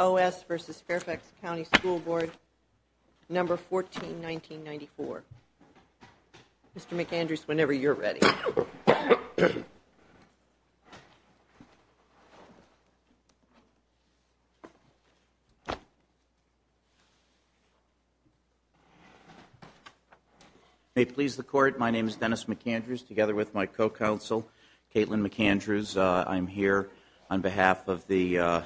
O. S. v. Fairfax County School Board, No. 14-1994. Mr. McAndrews, whenever you're ready. May it please the Court, my name is Dennis McAndrews, together with my co-counsel, Caitlin McAndrews. I'm here on behalf of the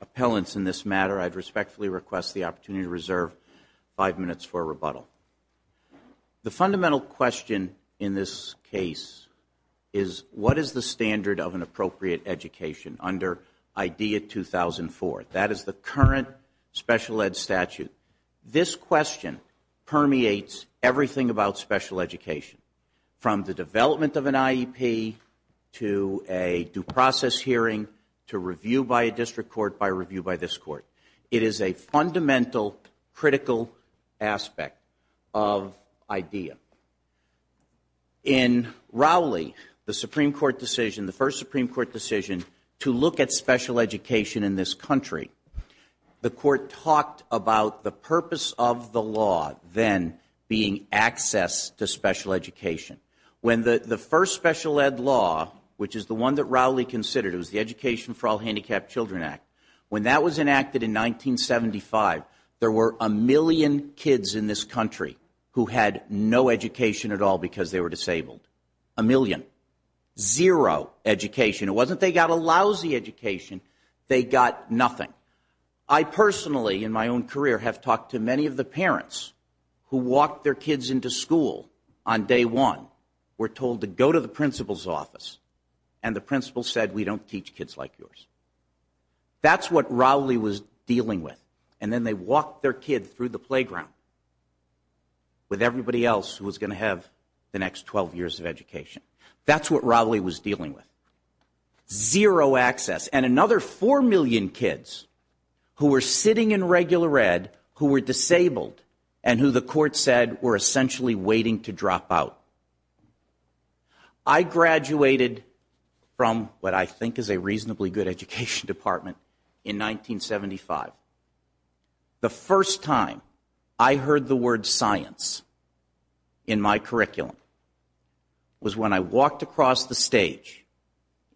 appellants in this matter. I'd respectfully request the opportunity to reserve five minutes for a rebuttal. The fundamental question in this case is, what is the standard of an appropriate education under IDEA 2004? That is the current special ed statute. This question permeates everything about special education. From the development of an IEP, to a due process hearing, to review by a district court, by review by this court. It is a fundamental, critical aspect of IDEA. In Rowley, the Supreme Court decision, the first Supreme Court decision to look at special education in this country, the court talked about the purpose of the law then being access to special education. When the first special ed law, which is the one that Rowley considered, it was the Education for All Handicapped Children Act, when that was enacted in 1975, there were a million kids in this country who had no education at all because they were disabled. A million. Zero education. It wasn't they got a lousy education, they got nothing. I personally, in my own career, have talked to many of the parents who walked their kids into school on day one, were told to go to the principal's office, and the principal said, we don't teach kids like yours. That's what Rowley was dealing with. And then they walked their kid through the playground with everybody else who was going to have the next 12 years of education. That's what Rowley was dealing with. Zero access. And another four million kids who were sitting in regular ed, who were disabled, and who the court said were essentially waiting to drop out. I graduated from what I think is a reasonably good education department in 1975. The first time I heard the word science in my curriculum was when I walked across the stage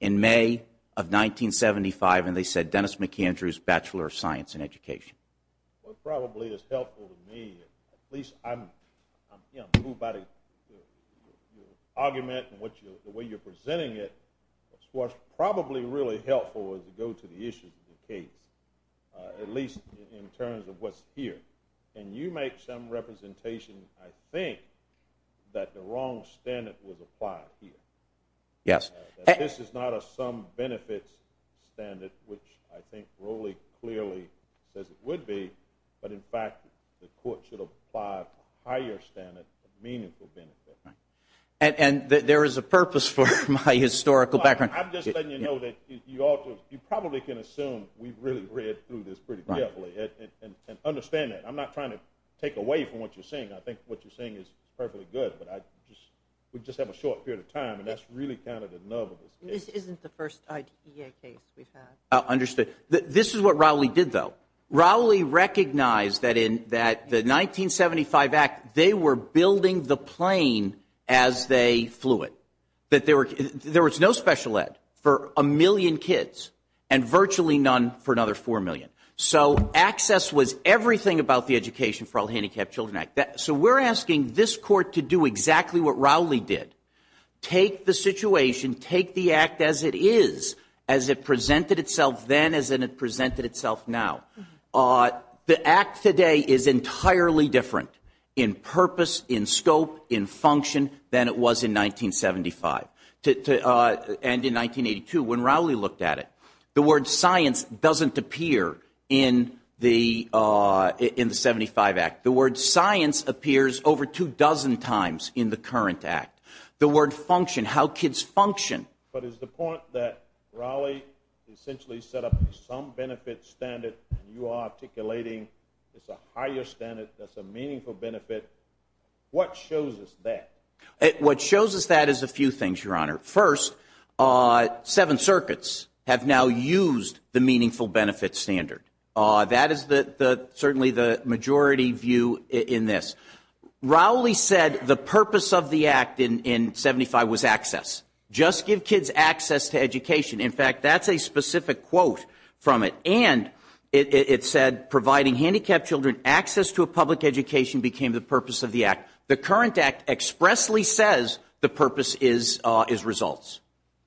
in May of 1975, and they said Dennis McAndrew's Bachelor of Science in Education. What probably is helpful to me, at least I'm here, I'm moved by the argument and the way you're presenting it, what's probably really helpful is to go to the issue of the case, at least in terms of what's here. And you make some representation, I think, that the wrong standard was applied here. Yes. This is not a some benefits standard, which I think Rowley clearly says it would be, but in fact the court should apply a higher standard of meaningful benefit. And there is a purpose for my historical background. I'm just letting you know that you probably can assume we've really read through this pretty carefully and understand that. I'm not trying to take away from what you're saying. I think what you're saying is perfectly good, but we just have a short period of time, and that's really kind of the nub of this case. This isn't the first E.A. case we've had. Understood. This is what Rowley did, though. Rowley recognized that in the 1975 act they were building the plane as they flew it, that there was no special ed for a million kids and virtually none for another four million. So access was everything about the Education for All Handicapped Children Act. So we're asking this court to do exactly what Rowley did, take the situation, take the act as it is, as it presented itself then as it presented itself now. The act today is entirely different in purpose, in scope, in function than it was in 1975 and in 1982. When Rowley looked at it, the word science doesn't appear in the 75 act. The word science appears over two dozen times in the current act. The word function, how kids function. But is the point that Rowley essentially set up some benefit standard and you are articulating it's a higher standard, that's a meaningful benefit, what shows us that? What shows us that is a few things, Your Honor. First, seven circuits have now used the meaningful benefit standard. That is certainly the majority view in this. Rowley said the purpose of the act in 75 was access. Just give kids access to education. In fact, that's a specific quote from it. And it said providing handicapped children access to a public education became the purpose of the act. The current act expressly says the purpose is results.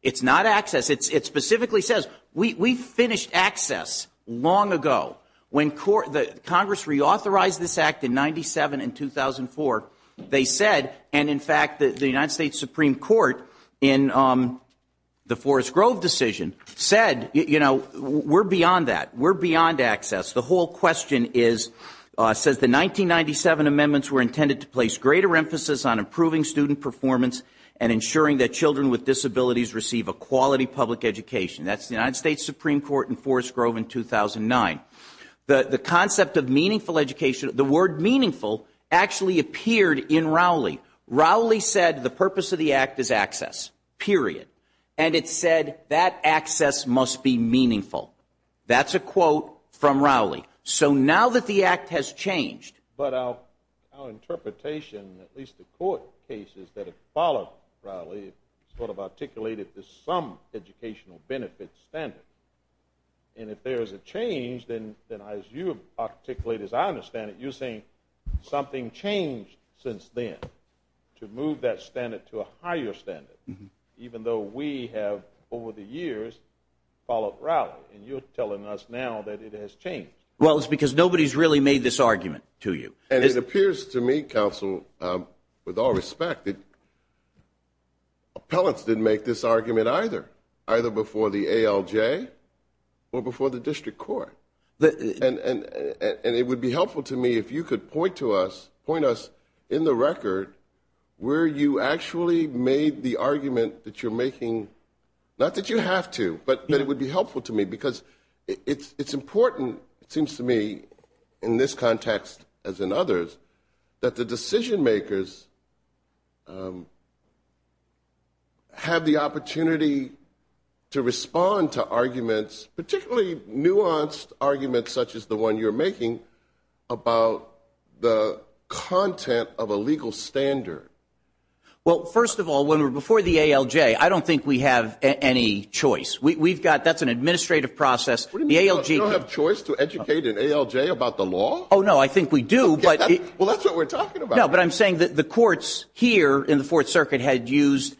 It's not access. It specifically says we finished access long ago. When Congress reauthorized this act in 97 and 2004, they said, and, in fact, the United States Supreme Court in the Forrest Grove decision said, you know, we're beyond that. We're beyond access. The whole question is, says the 1997 amendments were intended to place greater emphasis on improving student performance and ensuring that children with disabilities receive a quality public education. That's the United States Supreme Court in Forrest Grove in 2009. The concept of meaningful education, the word meaningful actually appeared in Rowley. Rowley said the purpose of the act is access, period. And it said that access must be meaningful. That's a quote from Rowley. So now that the act has changed. But our interpretation, at least the court cases that have followed Rowley, sort of articulated this some educational benefit standard. And if there is a change, then as you articulate, as I understand it, you're saying something changed since then to move that standard to a higher standard, even though we have, over the years, followed Rowley. And you're telling us now that it has changed. Well, it's because nobody's really made this argument to you. And it appears to me, counsel, with all respect, appellants didn't make this argument either, either before the ALJ or before the district court. And it would be helpful to me if you could point to us, point us in the record, where you actually made the argument that you're making, not that you have to, but that it would be helpful to me because it's important, it seems to me, in this context, as in others, that the decision makers have the opportunity to respond to arguments, particularly nuanced arguments such as the one you're making, about the content of a legal standard. Well, first of all, when we're before the ALJ, I don't think we have any choice. We've got, that's an administrative process. We don't have choice to educate an ALJ about the law? Oh, no, I think we do. Well, that's what we're talking about. No, but I'm saying that the courts here in the Fourth Circuit had used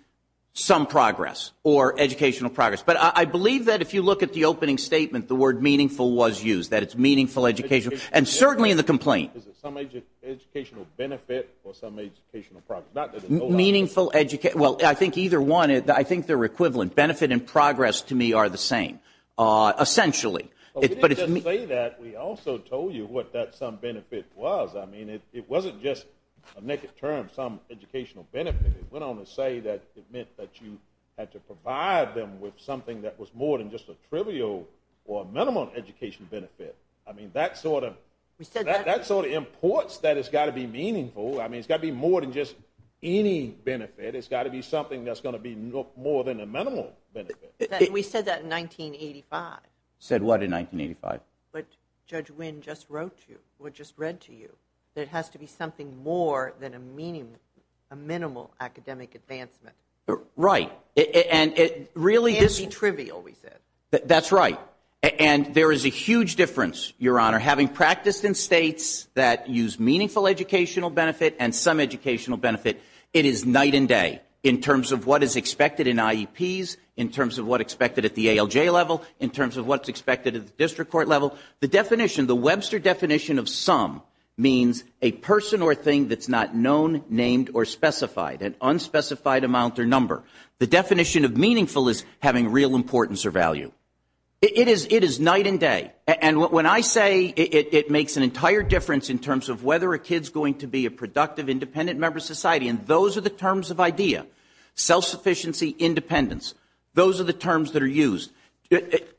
some progress or educational progress. But I believe that if you look at the opening statement, the word meaningful was used, that it's meaningful education, and certainly in the complaint. Is it some educational benefit or some educational progress? Meaningful, well, I think either one. I think they're equivalent. Benefit and progress, to me, are the same, essentially. We didn't just say that. We also told you what that some benefit was. I mean, it wasn't just a naked term, some educational benefit. It went on to say that it meant that you had to provide them with something that was more than just a trivial or a minimum educational benefit. I mean, that sort of imports that it's got to be meaningful. I mean, it's got to be more than just any benefit. It's got to be something that's going to be more than a minimal benefit. We said that in 1985. Said what in 1985? What Judge Wynn just wrote to you, or just read to you, that it has to be something more than a minimal academic advancement. Right. And it really is trivial, we said. That's right. And there is a huge difference, Your Honor. Having practiced in states that use meaningful educational benefit and some educational benefit, it is night and day in terms of what is expected in IEPs, in terms of what's expected at the ALJ level, in terms of what's expected at the district court level. The definition, the Webster definition of some means a person or thing that's not known, named, or specified, an unspecified amount or number. The definition of meaningful is having real importance or value. It is night and day. And when I say it makes an entire difference in terms of whether a kid's going to be a productive, independent member of society, and those are the terms of IDEA, self-sufficiency, independence. Those are the terms that are used.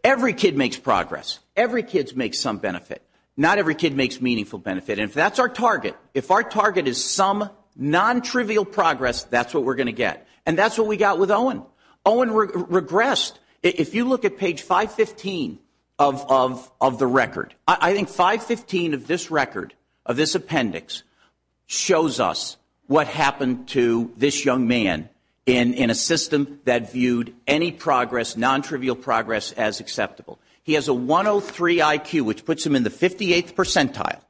Every kid makes progress. Every kid makes some benefit. Not every kid makes meaningful benefit. And if that's our target, if our target is some non-trivial progress, that's what we're going to get. And that's what we got with Owen. Owen regressed. If you look at page 515 of the record, I think 515 of this record, of this appendix, shows us what happened to this young man in a system that viewed any progress, non-trivial progress, as acceptable. He has a 103 IQ, which puts him in the 58th percentile.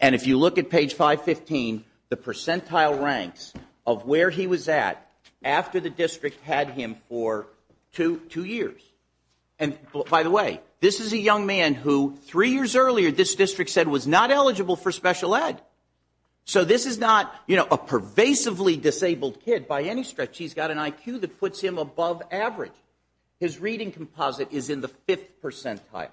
And if you look at page 515, the percentile ranks of where he was at after the district had him for two years. And, by the way, this is a young man who three years earlier this district said was not eligible for special ed. So this is not, you know, a pervasively disabled kid by any stretch. He's got an IQ that puts him above average. His reading composite is in the fifth percentile.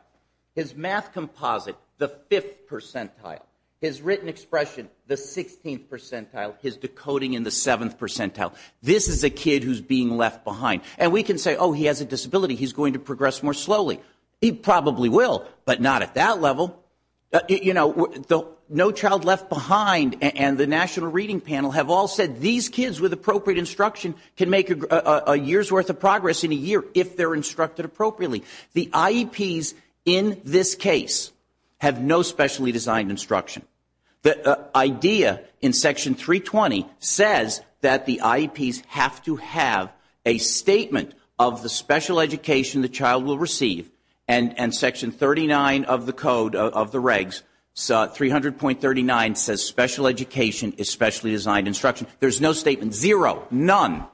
His math composite, the fifth percentile. His written expression, the 16th percentile. His decoding in the seventh percentile. This is a kid who's being left behind. And we can say, oh, he has a disability. He's going to progress more slowly. He probably will, but not at that level. You know, No Child Left Behind and the National Reading Panel have all said these kids with appropriate instruction can make a year's worth of progress in a year if they're instructed appropriately. The IEPs in this case have no specially designed instruction. The idea in Section 320 says that the IEPs have to have a statement of the special education the child will receive. And Section 39 of the code of the regs, 300.39, says special education is specially designed instruction. There's no statement. Zero. None.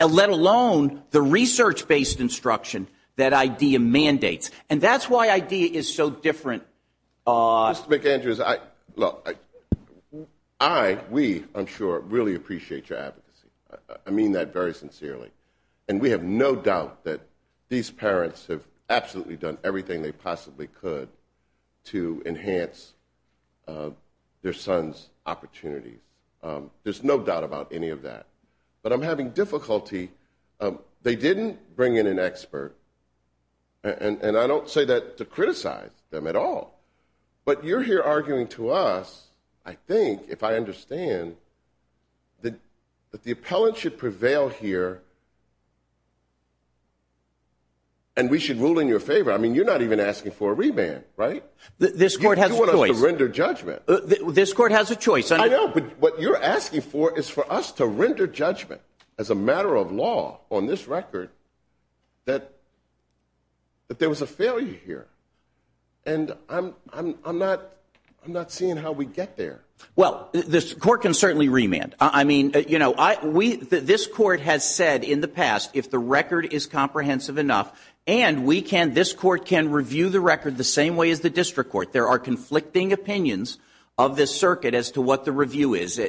Let alone the research-based instruction that IDEA mandates. And that's why IDEA is so different. Mr. McAndrews, I, we, I'm sure, really appreciate your advocacy. I mean that very sincerely. And we have no doubt that these parents have absolutely done everything they possibly could to enhance their son's opportunities. There's no doubt about any of that. But I'm having difficulty. They didn't bring in an expert. And I don't say that to criticize them at all. But you're here arguing to us, I think, if I understand, that the appellant should prevail here and we should rule in your favor. I mean, you're not even asking for a reband, right? This court has a choice. You want us to render judgment. This court has a choice. I know, but what you're asking for is for us to render judgment as a matter of law on this record that there was a failure here. And I'm, I'm not, I'm not seeing how we get there. Well, this court can certainly remand. I mean, you know, I, we, this court has said in the past, if the record is comprehensive enough, and we can, this court can review the record the same way as the district court. There are conflicting opinions of this circuit as to what the review is.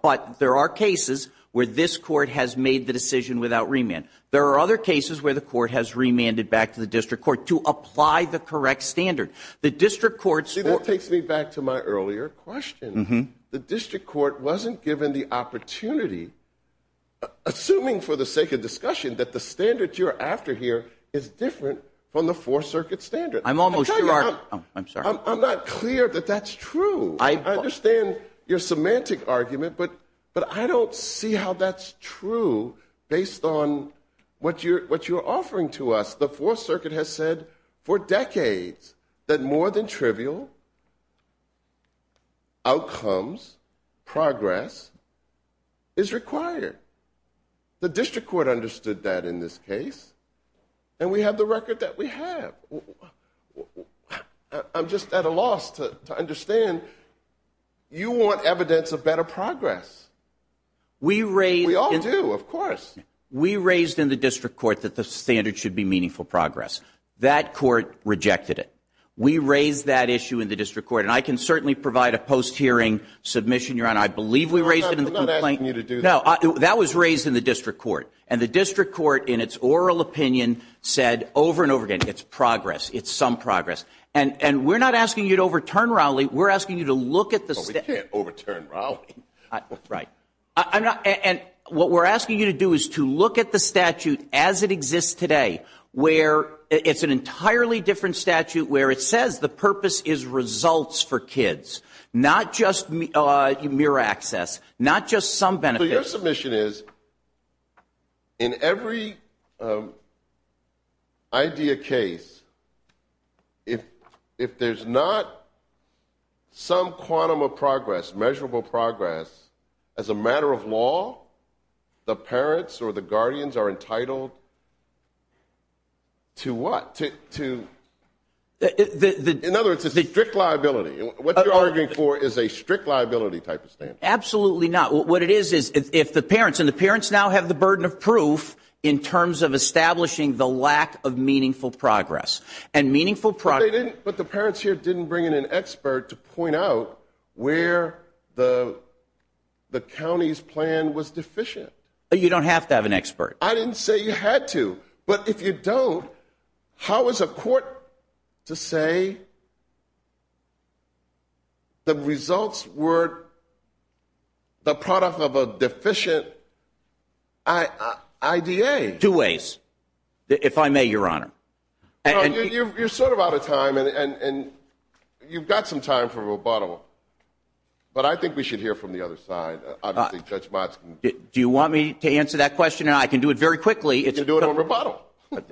But there are cases where this court has made the decision without remand. There are other cases where the court has remanded back to the district court to apply the correct standard. The district court's court. See, that takes me back to my earlier question. The district court wasn't given the opportunity, assuming for the sake of discussion, that the standard you're after here is different from the Fourth Circuit standard. I'm almost sure. I'm sorry. I'm not clear that that's true. I understand your semantic argument, but, but I don't see how that's true based on what you're, what you're offering to us. The Fourth Circuit has said for decades that more than trivial outcomes, progress is required. The district court understood that in this case. And we have the record that we have. I'm just at a loss to understand. You want evidence of better progress. We raised. We all do, of course. We raised in the district court that the standard should be meaningful progress. That court rejected it. We raised that issue in the district court. And I can certainly provide a post-hearing submission, Your Honor. I believe we raised it in the complaint. I'm not asking you to do that. No, that was raised in the district court. And the district court, in its oral opinion, said over and over again, it's progress. It's some progress. And we're not asking you to overturn Rowley. We're asking you to look at the statute. But we can't overturn Rowley. Right. I'm not. And what we're asking you to do is to look at the statute as it exists today, where it's an entirely different statute, where it says the purpose is results for kids, not just mere access, not just some benefits. So your submission is, in every idea case, if there's not some quantum of progress, measurable progress, as a matter of law, the parents or the guardians are entitled to what? In other words, it's a strict liability. What you're arguing for is a strict liability type of statute. Absolutely not. What it is is if the parents, and the parents now have the burden of proof in terms of establishing the lack of meaningful progress. But the parents here didn't bring in an expert to point out where the county's plan was deficient. You don't have to have an expert. I didn't say you had to. But if you don't, how is a court to say the results were the product of a deficient IDA? Two ways, if I may, Your Honor. You're sort of out of time, and you've got some time for rebuttal. But I think we should hear from the other side. Do you want me to answer that question? I can do it very quickly. You can do it on rebuttal.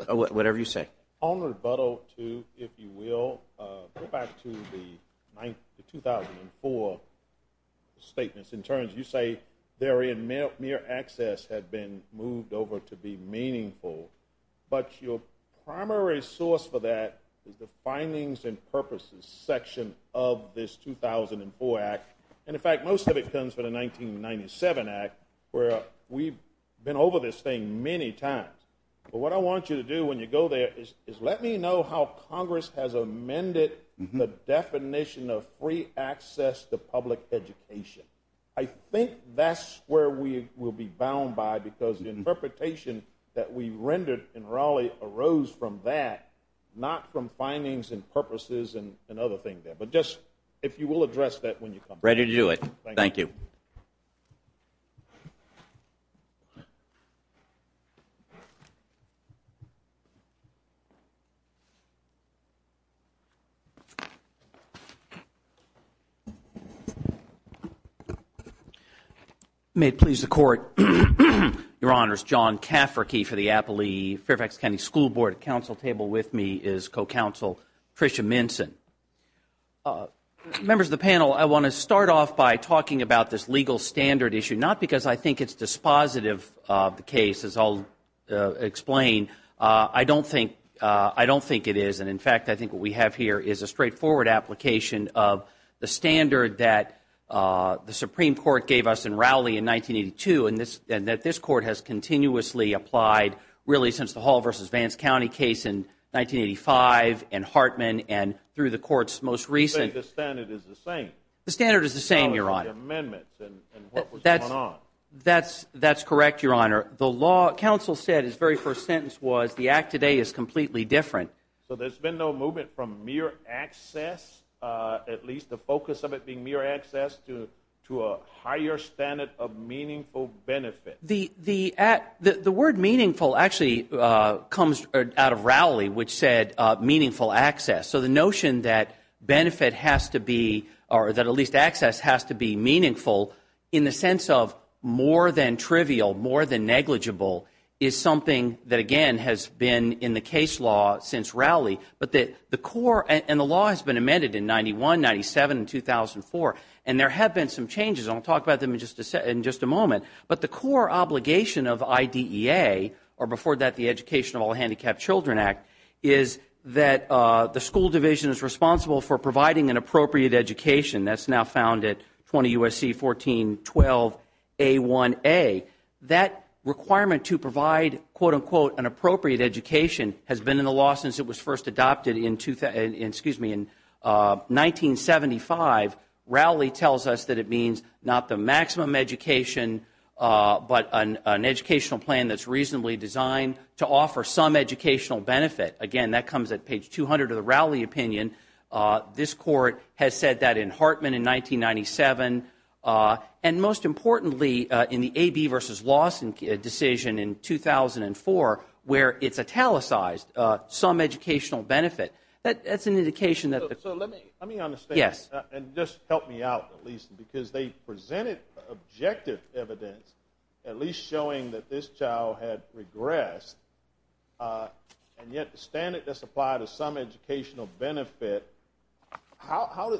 Whatever you say. On rebuttal, too, if you will, go back to the 2004 statements. You say therein mere access had been moved over to be meaningful. But your primary source for that is the findings and purposes section of this 2004 Act. And, in fact, most of it comes from the 1997 Act, where we've been over this thing many times. But what I want you to do when you go there is let me know how Congress has amended the definition of free access to public education. I think that's where we will be bound by, because the interpretation that we rendered in Raleigh arose from that, not from findings and purposes and other things there. But just, if you will, address that when you come back. Ready to do it. Thank you. Thank you. May it please the Court. Your Honors, John Cafferkey for the Appley Fairfax County School Board. At the Council table with me is Co-Counsel Tricia Minson. Members of the panel, I want to start off by talking about this legal standard issue, not because I think it's dispositive of the case, as I'll explain. I don't think it is. And, in fact, I think what we have here is a straightforward application of the standard that the Supreme Court gave us in Raleigh in 1982 and that this Court has continuously applied, really, since the Hall v. Vance County case in 1985 and Hartman and through the Court's most recent. But the standard is the same. The standard is the same, Your Honor. And what was going on? That's correct, Your Honor. The law, Council said, its very first sentence was, the act today is completely different. So there's been no movement from mere access, at least the focus of it being mere access, to a higher standard of meaningful benefit? The word meaningful actually comes out of Raleigh, which said meaningful access. So the notion that benefit has to be, or that at least access has to be meaningful in the sense of more than trivial, more than negligible, is something that, again, has been in the case law since Raleigh. But the core, and the law has been amended in 91, 97, and 2004, and there have been some changes, and I'll talk about them in just a moment, but the core obligation of IDEA, or before that the Education of All Handicapped Children Act, is that the school division is responsible for providing an appropriate education. That's now found at 20 U.S.C. 1412A1A. That requirement to provide, quote, unquote, an appropriate education has been in the law since it was first adopted in 1975. Raleigh tells us that it means not the maximum education, but an educational plan that's reasonably designed to offer some educational benefit. Again, that comes at page 200 of the Raleigh opinion. This court has said that in Hartman in 1997, and most importantly, in the A.B. v. Lawson decision in 2004, where it's italicized some educational benefit. That's an indication that the- So let me understand, and just help me out at least, because they presented objective evidence at least showing that this child had regressed, and yet the standard does apply to some educational benefit.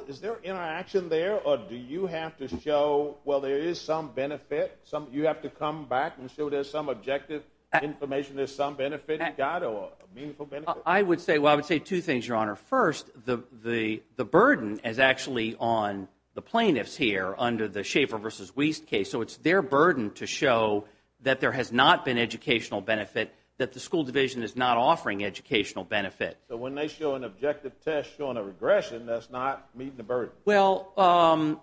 Is there interaction there, or do you have to show, well, there is some benefit? You have to come back and show there's some objective information, there's some benefit you got, or a meaningful benefit? I would say two things, Your Honor. First, the burden is actually on the plaintiffs here under the Schaefer v. Wiest case, so it's their burden to show that there has not been educational benefit, that the school division is not offering educational benefit. So when they show an objective test showing a regression, that's not meeting the burden? Well, the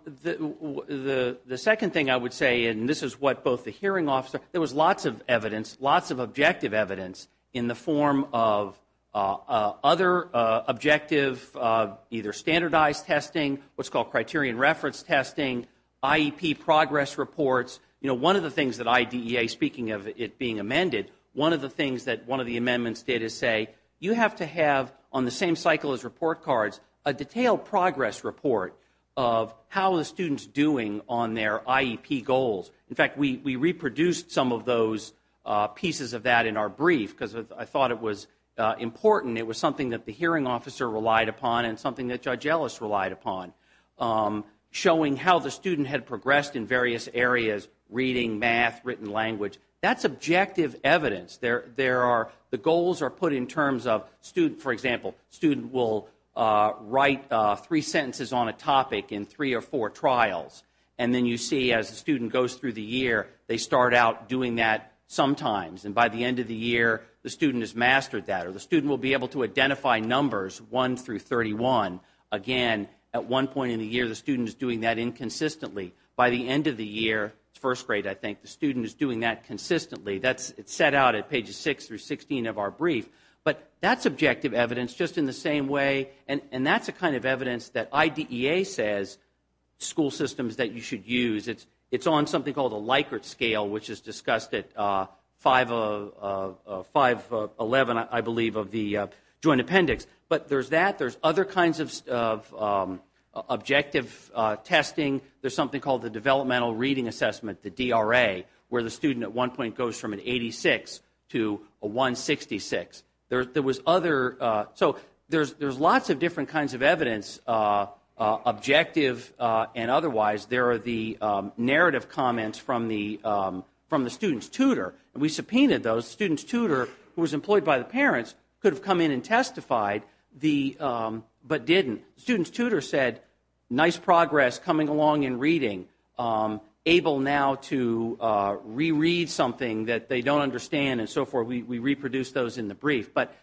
second thing I would say, and this is what both the hearing officer- There was lots of evidence, lots of objective evidence in the form of other objective either standardized testing, what's called criterion reference testing, IEP progress reports. You know, one of the things that IDEA, speaking of it being amended, one of the things that one of the amendments did is say you have to have on the same cycle as report cards a detailed progress report of how the student's doing on their IEP goals. In fact, we reproduced some of those pieces of that in our brief because I thought it was important. It was something that the hearing officer relied upon and something that Judge Ellis relied upon, showing how the student had progressed in various areas, reading, math, written language. That's objective evidence. The goals are put in terms of, for example, student will write three sentences on a topic in three or four trials, and then you see as the student goes through the year, they start out doing that sometimes, and by the end of the year, the student has mastered that, or the student will be able to identify numbers 1 through 31. Again, at one point in the year, the student is doing that inconsistently. By the end of the year, first grade, I think, the student is doing that consistently. It's set out at pages 6 through 16 of our brief, but that's objective evidence just in the same way, and that's the kind of evidence that IDEA says school systems that you should use. It's on something called a Likert scale, which is discussed at 511, I believe, of the Joint Appendix. But there's that. There's other kinds of objective testing. There's something called the Developmental Reading Assessment, the DRA, where the student at one point goes from an 86 to a 166. So there's lots of different kinds of evidence, objective and otherwise. There are the narrative comments from the student's tutor, and we subpoenaed those. The student's tutor, who was employed by the parents, could have come in and testified, but didn't. The student's tutor said, nice progress coming along in reading, able now to reread something that they don't understand and so forth. We reproduced those in the brief. But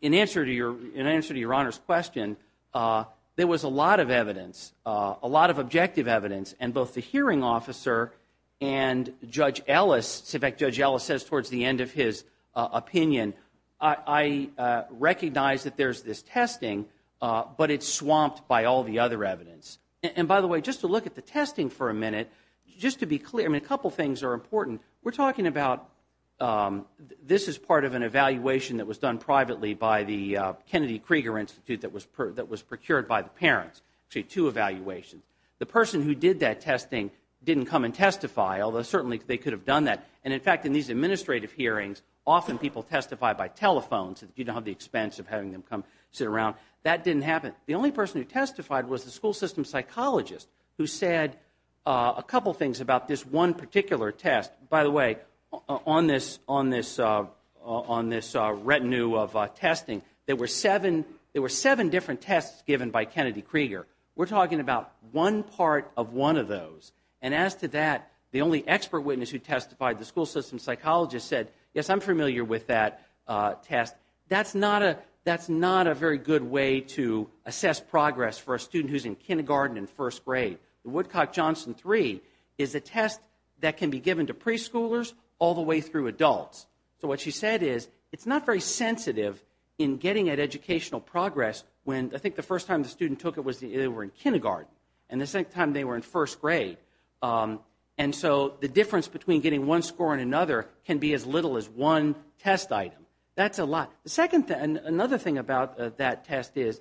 in answer to Your Honor's question, there was a lot of evidence, a lot of objective evidence, and both the hearing officer and Judge Ellis, in fact, Judge Ellis says towards the end of his opinion, I recognize that there's this testing, but it's swamped by all the other evidence. And by the way, just to look at the testing for a minute, just to be clear, I mean, a couple things are important. We're talking about this is part of an evaluation that was done privately by the Kennedy Krieger Institute that was procured by the parents, actually two evaluations. The person who did that testing didn't come and testify, although certainly they could have done that. And in fact, in these administrative hearings, often people testify by telephone, so you don't have the expense of having them come sit around. That didn't happen. The only person who testified was the school system psychologist who said a couple things about this one particular test. By the way, on this retinue of testing, there were seven different tests given by Kennedy Krieger. We're talking about one part of one of those. And as to that, the only expert witness who testified, the school system psychologist, said, yes, I'm familiar with that test. That's not a very good way to assess progress for a student who's in kindergarten and first grade. The Woodcock-Johnson 3 is a test that can be given to preschoolers all the way through adults. So what she said is it's not very sensitive in getting at educational progress when I think the first time the student took it was they were in kindergarten and the second time they were in first grade. And so the difference between getting one score and another can be as little as one test item. That's a lot. The second thing, another thing about that test is,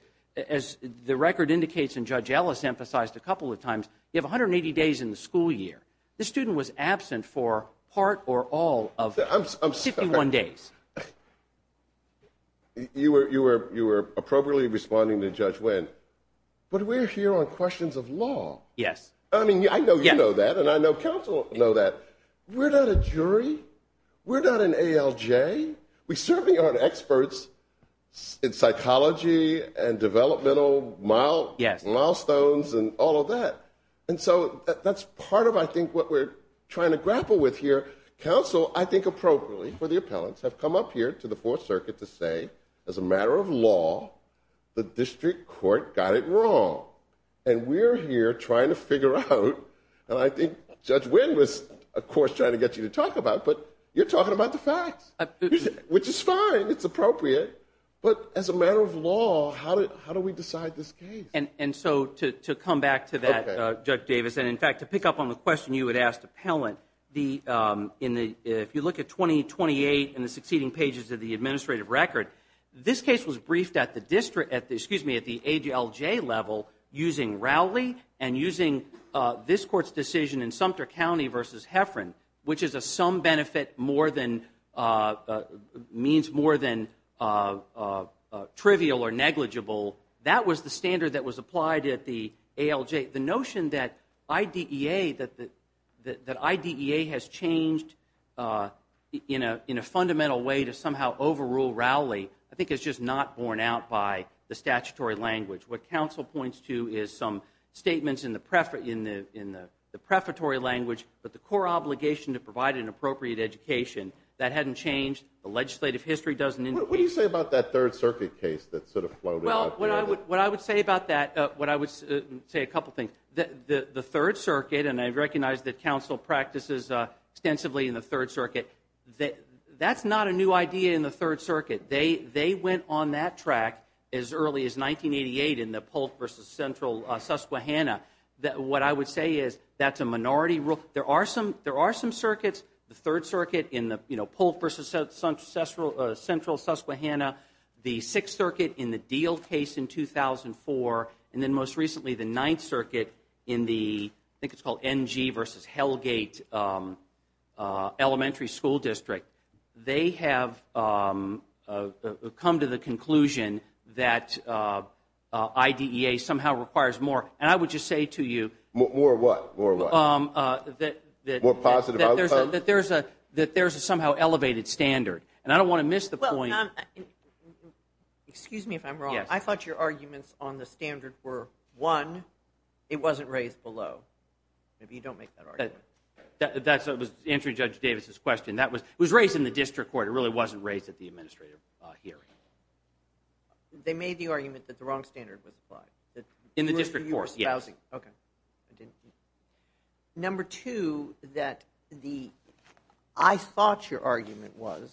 as the record indicates, and Judge Ellis emphasized a couple of times, you have 180 days in the school year. The student was absent for part or all of 51 days. You were appropriately responding to Judge Wynn. But we're here on questions of law. Yes. I mean, I know you know that, and I know counsel know that. We're not a jury. We're not an ALJ. We certainly aren't experts in psychology and developmental milestones and all of that. And so that's part of, I think, what we're trying to grapple with here. Counsel, I think appropriately for the appellants, have come up here to the Fourth Circuit to say, as a matter of law, the district court got it wrong. And we're here trying to figure out, and I think Judge Wynn was, of course, trying to get you to talk about it, but you're talking about the facts, which is fine. It's appropriate. But as a matter of law, how do we decide this case? And so to come back to that, Judge Davis, and, in fact, to pick up on the question you had asked the appellant, if you look at 2028 and the succeeding pages of the administrative record, this case was briefed at the district, excuse me, at the ALJ level using Rowley and using this court's decision in Sumter County versus Heffron, which is a sum benefit means more than trivial or negligible. That was the standard that was applied at the ALJ. The notion that IDEA has changed in a fundamental way to somehow overrule Rowley I think is just not borne out by the statutory language. What counsel points to is some statements in the prefatory language, but the core obligation to provide an appropriate education, that hadn't changed. The legislative history doesn't indicate that. What do you say about that Third Circuit case that sort of floated out there? Well, what I would say about that, what I would say a couple of things. The Third Circuit, and I recognize that counsel practices extensively in the Third Circuit, that's not a new idea in the Third Circuit. They went on that track as early as 1988 in the Polk v. Central Susquehanna. What I would say is that's a minority rule. There are some circuits, the Third Circuit in the Polk v. Central Susquehanna, the Sixth Circuit in the Deal case in 2004, and then most recently the Ninth Circuit in the, I think it's called NG v. Hellgate Elementary School District. They have come to the conclusion that IDEA somehow requires more, and I would just say to you. More what? More what? That there's a somehow elevated standard, and I don't want to miss the point. Excuse me if I'm wrong. I thought your arguments on the standard were, one, it wasn't raised below. Maybe you don't make that argument. That was answering Judge Davis's question. It was raised in the district court. It really wasn't raised at the administrative hearing. They made the argument that the wrong standard was applied. In the district court, yes. Housing. Okay. Number two, that the, I thought your argument was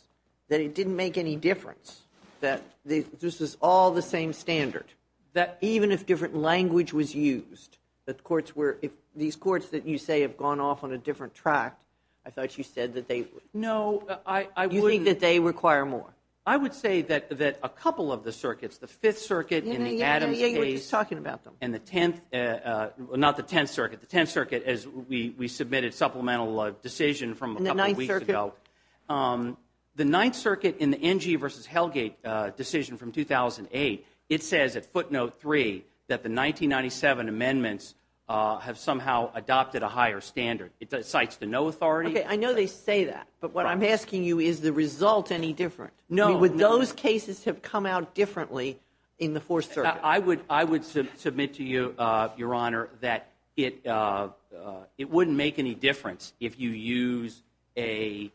that it didn't make any difference, that this was all the same standard, that even if different language was used, that courts were, these courts that you say have gone off on a different track, I thought you said that they would. No, I wouldn't. You think that they require more? I would say that a couple of the circuits, the Fifth Circuit and the Adams case. Yeah, you were just talking about them. And the Tenth, not the Tenth Circuit, the Tenth Circuit, as we submitted supplemental decision from a couple of weeks ago. And the Ninth Circuit? The Ninth Circuit in the NG versus Hellgate decision from 2008, it says at footnote three that the 1997 amendments have somehow adopted a higher standard. It cites the no authority. Okay, I know they say that. But what I'm asking you, is the result any different? No. I mean, would those cases have come out differently in the Fourth Circuit? I would submit to you, Your Honor, that it wouldn't make any difference if you use a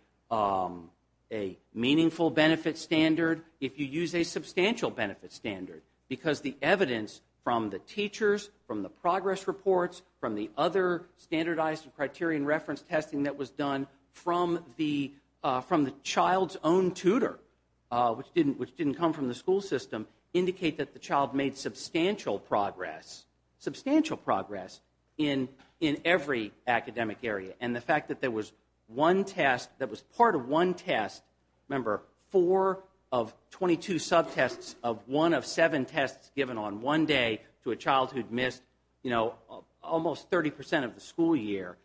meaningful benefit standard, if you use a substantial benefit standard. Because the evidence from the teachers, from the progress reports, from the other standardized and criterion reference testing that was done from the child's own tutor, which didn't come from the school system, indicate that the child made substantial progress, substantial progress in every academic area. And the fact that there was one test, that was part of one test, remember, four of 22 subtests of one of seven tests given on one day to a child who'd missed, you know, almost 30 percent of the school year,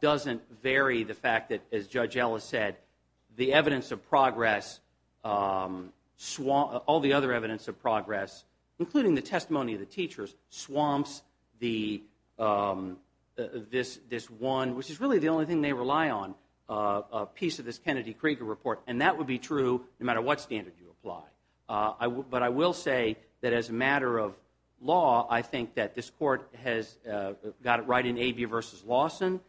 doesn't vary the fact that, as Judge Ellis said, the evidence of progress, all the other evidence of progress, including the testimony of the teachers, swamps this one, which is really the only thing they rely on, piece of this Kennedy-Krieger report. And that would be true no matter what standard you apply. But I will say that, as a matter of law, I think that this Court has got it right in Abia v. Lawson.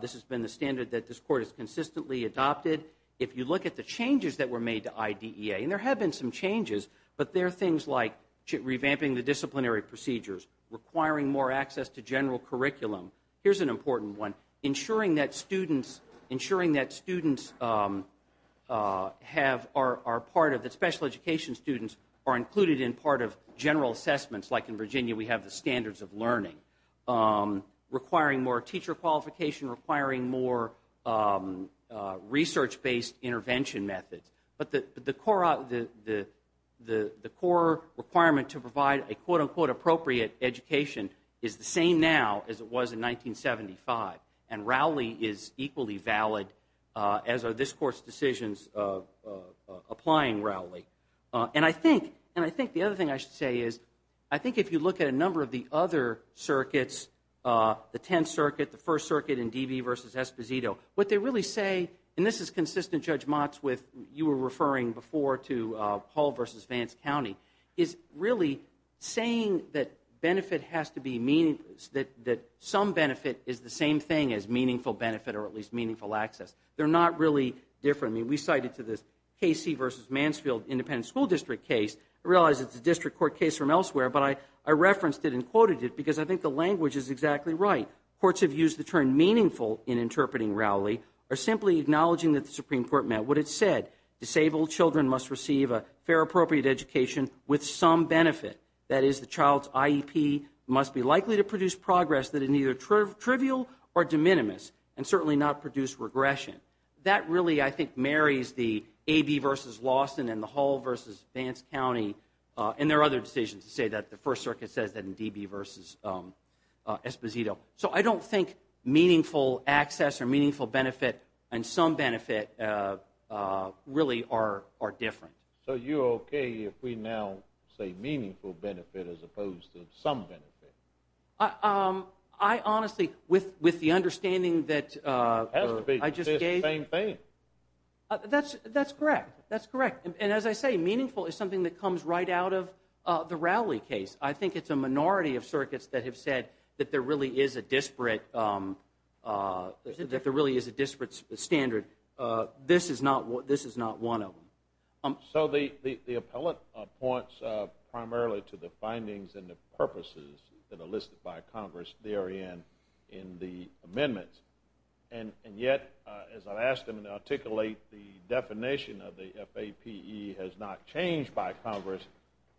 This has been the standard that this Court has consistently adopted. If you look at the changes that were made to IDEA, and there have been some changes, but there are things like revamping the disciplinary procedures, requiring more access to general curriculum. Here's an important one, ensuring that students have, are part of, that special education students are included in part of general assessments. Like in Virginia, we have the standards of learning. Requiring more teacher qualification, requiring more research-based intervention methods. But the core requirement to provide a quote-unquote appropriate education is the same now as it was in 1975. And Rowley is equally valid, as are this Court's decisions applying Rowley. And I think the other thing I should say is, I think if you look at a number of the other circuits, the Tenth Circuit, the First Circuit, and D.B. v. Esposito, what they really say, and this is consistent, Judge Motts, with you were referring before to Hall v. Vance County, is really saying that some benefit is the same thing as meaningful benefit or at least meaningful access. They're not really different. I mean, we cite it to this Casey v. Mansfield Independent School District case. I realize it's a district court case from elsewhere, but I referenced it and quoted it because I think the language is exactly right. Courts have used the term meaningful in interpreting Rowley or simply acknowledging that the Supreme Court meant what it said. Disabled children must receive a fair, appropriate education with some benefit. That is, the child's IEP must be likely to produce progress that is neither trivial or de minimis and certainly not produce regression. That really, I think, marries the A.B. v. Lawson and the Hall v. Vance County and their other decisions to say that the First Circuit says that in D.B. v. Esposito. So I don't think meaningful access or meaningful benefit and some benefit really are different. So you're okay if we now say meaningful benefit as opposed to some benefit? I honestly, with the understanding that I just gave. It has to be the same thing. That's correct. That's correct. And as I say, meaningful is something that comes right out of the Rowley case. I think it's a minority of circuits that have said that there really is a disparate standard. This is not one of them. So the appellate points primarily to the findings and the purposes that are listed by Congress therein in the amendments. And yet, as I've asked him to articulate, the definition of the FAPE has not changed by Congress.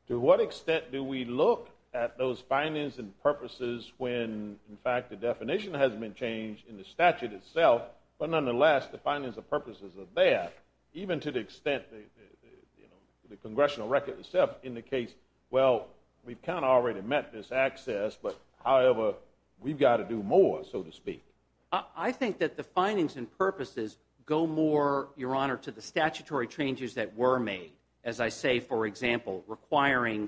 To what extent do we look at those findings and purposes when, in fact, the definition hasn't been changed in the statute itself, but nonetheless, the findings and purposes of that, even to the extent the congressional record itself indicates, well, we've kind of already met this access, but however, we've got to do more, so to speak. I think that the findings and purposes go more, Your Honor, to the statutory changes that were made. As I say, for example, requiring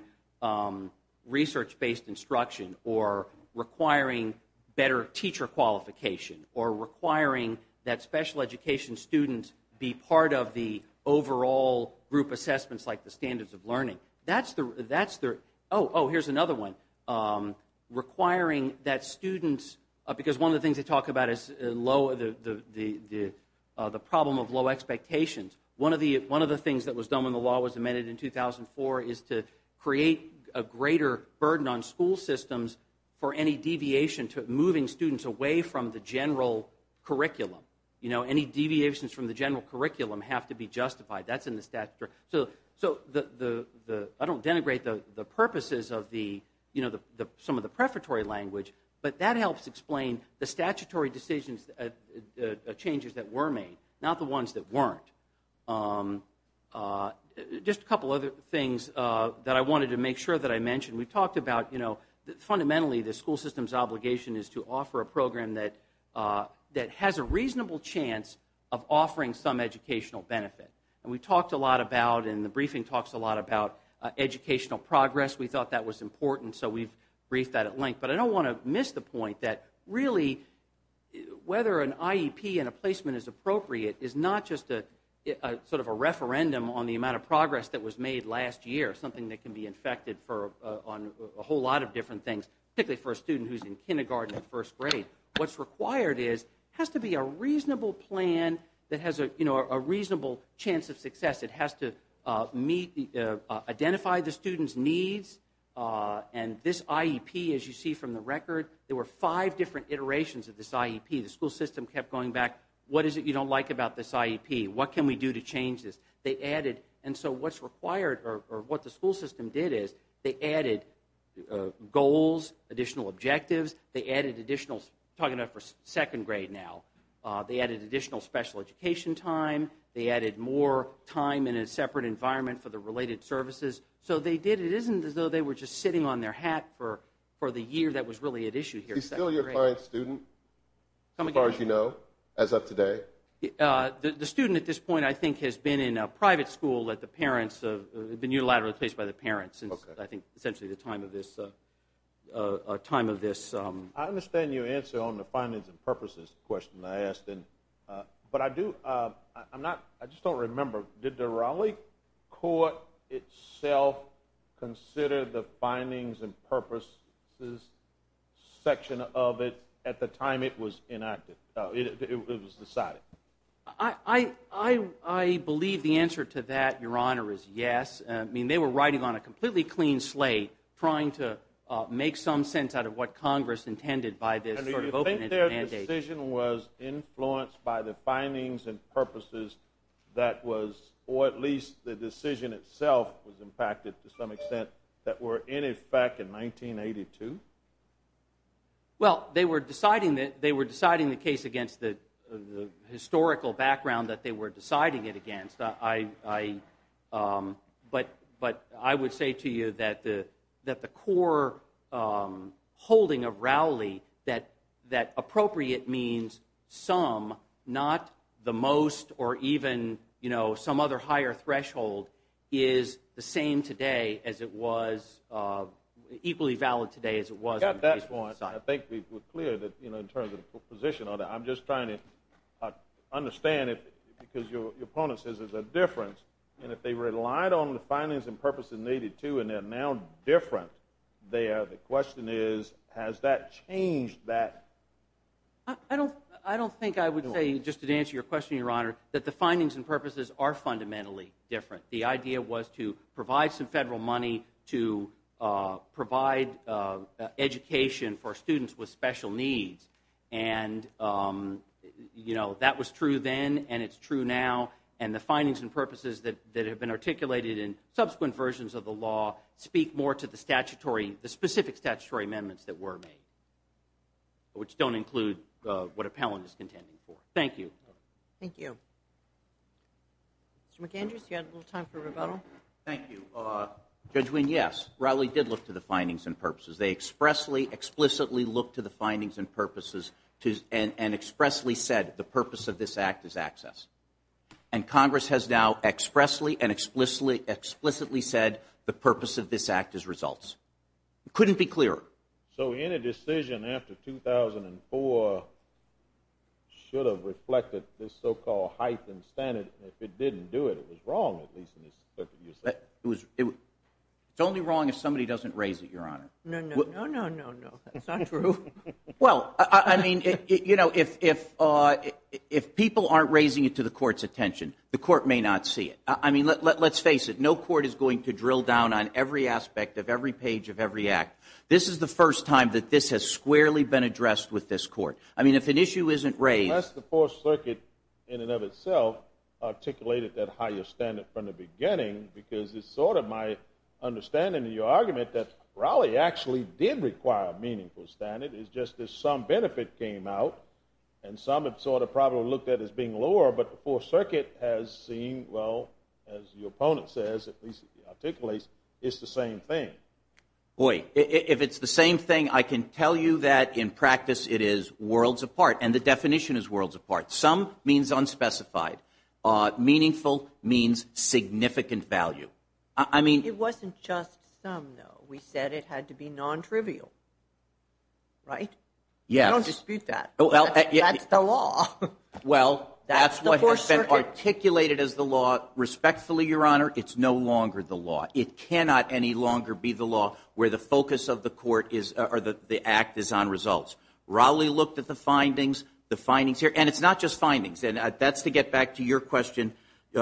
research-based instruction or requiring better teacher qualification or requiring that special education students be part of the overall group assessments like the standards of learning. That's the – oh, here's another one. Requiring that students – because one of the things they talk about is the problem of low expectations. One of the things that was done when the law was amended in 2004 is to create a greater burden on school systems for any deviation to moving students away from the general curriculum. Any deviations from the general curriculum have to be justified. That's in the statute. So I don't denigrate the purposes of some of the prefatory language, but that helps explain the statutory decisions, the changes that were made, not the ones that weren't. Just a couple other things that I wanted to make sure that I mentioned. We talked about fundamentally the school system's obligation is to offer a program that has a reasonable chance of offering some educational benefit. And we talked a lot about – and the briefing talks a lot about educational progress. We thought that was important, so we've briefed that at length. But I don't want to miss the point that really whether an IEP and a placement is appropriate is not just sort of a referendum on the amount of progress that was made last year, something that can be infected on a whole lot of different things, particularly for a student who's in kindergarten and first grade. What's required is it has to be a reasonable plan that has a reasonable chance of success. It has to identify the student's needs. And this IEP, as you see from the record, there were five different iterations of this IEP. The school system kept going back, what is it you don't like about this IEP? What can we do to change this? And so what's required or what the school system did is they added goals, additional objectives. They added additional – I'm talking about for second grade now. They added additional special education time. They added more time in a separate environment for the related services. So they did – it isn't as though they were just sitting on their hat for the year that was really at issue here. Is he still your client's student, as far as you know, as of today? The student at this point, I think, has been in a private school that the parents – been unilaterally placed by the parents since, I think, essentially the time of this. I understand your answer on the findings and purposes question I asked. But I do – I'm not – I just don't remember. Did the Raleigh court itself consider the findings and purposes section of it at the time it was enacted? It was decided. I believe the answer to that, Your Honor, is yes. I mean, they were riding on a completely clean slate trying to make some sense out of what Congress intended by this sort of open-ended mandate. And do you think their decision was influenced by the findings and purposes that was – or at least the decision itself was impacted to some extent that were in effect in 1982? Well, they were deciding the case against the historical background that they were deciding it against. But I would say to you that the core holding of Raleigh that appropriate means some, not the most or even, you know, some other higher threshold, is the same today as it was – equally valid today as it was. I got that one. I think we're clear that, you know, in terms of the position on that. I'm just trying to understand it because your opponent says there's a difference. And if they relied on the findings and purposes in 1982 and they're now different, the question is, has that changed that? I don't think I would say, just to answer your question, Your Honor, that the findings and purposes are fundamentally different. The idea was to provide some federal money to provide education for students with special needs. And, you know, that was true then and it's true now. And the findings and purposes that have been articulated in subsequent versions of the law speak more to the statutory – which don't include what appellant is contending for. Thank you. Thank you. Mr. McAndrews, you had a little time for rebuttal. Thank you. Judge Wynne, yes, Raleigh did look to the findings and purposes. They expressly, explicitly looked to the findings and purposes and expressly said the purpose of this Act is access. And Congress has now expressly and explicitly said the purpose of this Act is results. It couldn't be clearer. So any decision after 2004 should have reflected this so-called height and standard. If it didn't do it, it was wrong, at least in the circumstances. It's only wrong if somebody doesn't raise it, Your Honor. No, no, no, no, no, no. That's not true. Well, I mean, you know, if people aren't raising it to the Court's attention, the Court may not see it. I mean, let's face it. No Court is going to drill down on every aspect of every page of every Act. This is the first time that this has squarely been addressed with this Court. I mean, if an issue isn't raised— Unless the Fourth Circuit, in and of itself, articulated that higher standard from the beginning, because it's sort of my understanding of your argument that Raleigh actually did require a meaningful standard. It's just that some benefit came out, and some it sort of probably looked at as being lower, but the Fourth Circuit has seen, well, as your opponent says, at least articulates, it's the same thing. Boy, if it's the same thing, I can tell you that in practice it is worlds apart, and the definition is worlds apart. Some means unspecified. Meaningful means significant value. I mean— It wasn't just some, though. We said it had to be nontrivial, right? Yes. We don't dispute that. That's the law. Well, that's what has been articulated as the law. Respectfully, Your Honor, it's no longer the law. It cannot any longer be the law where the focus of the act is on results. Raleigh looked at the findings here, and it's not just findings, and that's to get back to your question,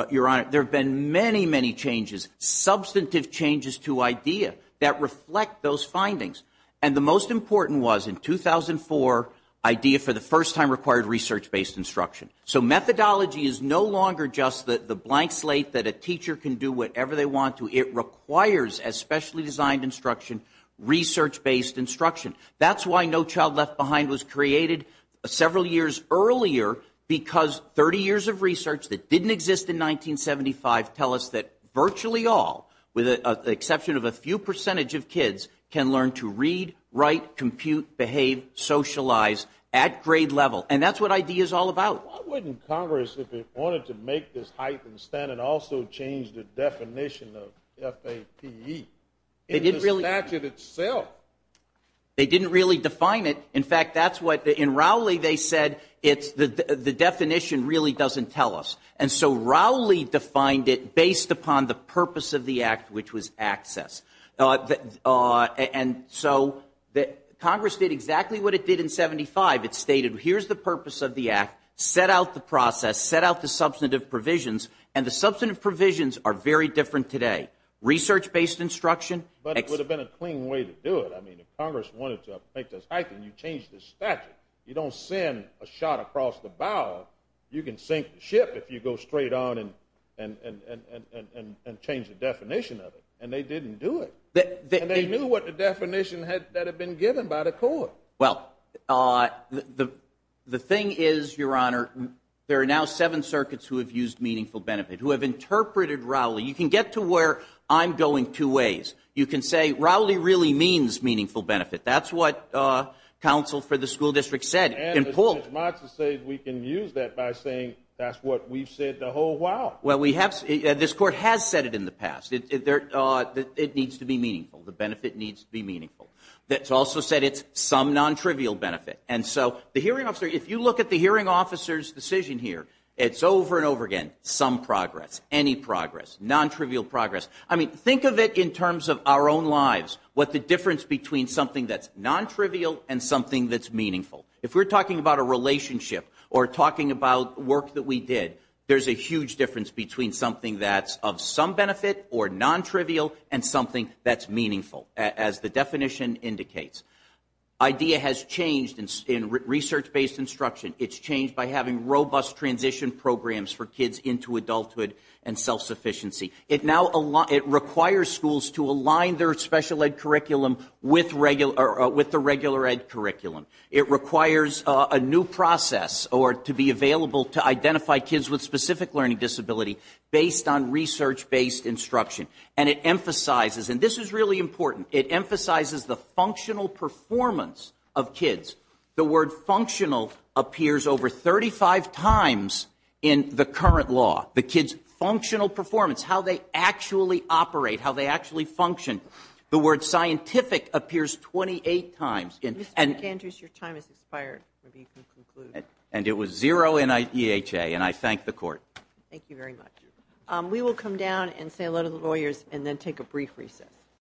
Your Honor. There have been many, many changes, substantive changes to IDEA that reflect those findings, and the most important was in 2004 IDEA for the first time required research-based instruction. So methodology is no longer just the blank slate that a teacher can do whatever they want to. It requires, as specially designed instruction, research-based instruction. That's why No Child Left Behind was created several years earlier, because 30 years of research that didn't exist in 1975 tell us that virtually all, with the exception of a few percentage of kids, can learn to read, write, compute, behave, socialize at grade level, and that's what IDEA is all about. Why wouldn't Congress, if it wanted to make this heightened standard, also change the definition of FAPE in the statute itself? They didn't really define it. In fact, that's what in Raleigh they said the definition really doesn't tell us. And so Raleigh defined it based upon the purpose of the act, which was access. And so Congress did exactly what it did in 1975. It stated here's the purpose of the act, set out the process, set out the substantive provisions, and the substantive provisions are very different today. Research-based instruction. But it would have been a clean way to do it. I mean, if Congress wanted to make this heightened, you change the statute. You don't send a shot across the bow. You can sink the ship if you go straight on and change the definition of it, and they didn't do it. And they knew what the definition that had been given by the court. Well, the thing is, Your Honor, there are now seven circuits who have used meaningful benefit, who have interpreted Raleigh. You can get to where I'm going two ways. You can say Raleigh really means meaningful benefit. That's what counsel for the school district said. And Judge Matz has said we can use that by saying that's what we've said the whole while. Well, this court has said it in the past. It needs to be meaningful. The benefit needs to be meaningful. It's also said it's some non-trivial benefit. And so the hearing officer, if you look at the hearing officer's decision here, it's over and over again, some progress, any progress, non-trivial progress. I mean, think of it in terms of our own lives, what the difference between something that's non-trivial and something that's meaningful. If we're talking about a relationship or talking about work that we did, there's a huge difference between something that's of some benefit or non-trivial and something that's meaningful. As the definition indicates, IDEA has changed in research-based instruction. It's changed by having robust transition programs for kids into adulthood and self-sufficiency. It now requires schools to align their special ed curriculum with the regular ed curriculum. It requires a new process to be available to identify kids with specific learning disability based on research-based instruction. And it emphasizes, and this is really important, it emphasizes the functional performance of kids. The word functional appears over 35 times in the current law. The kids' functional performance, how they actually operate, how they actually function. The word scientific appears 28 times. Mr. Gantrus, your time has expired. Maybe you can conclude. And it was zero in EHA, and I thank the Court. Thank you very much. We will come down and say hello to the lawyers and then take a brief recess.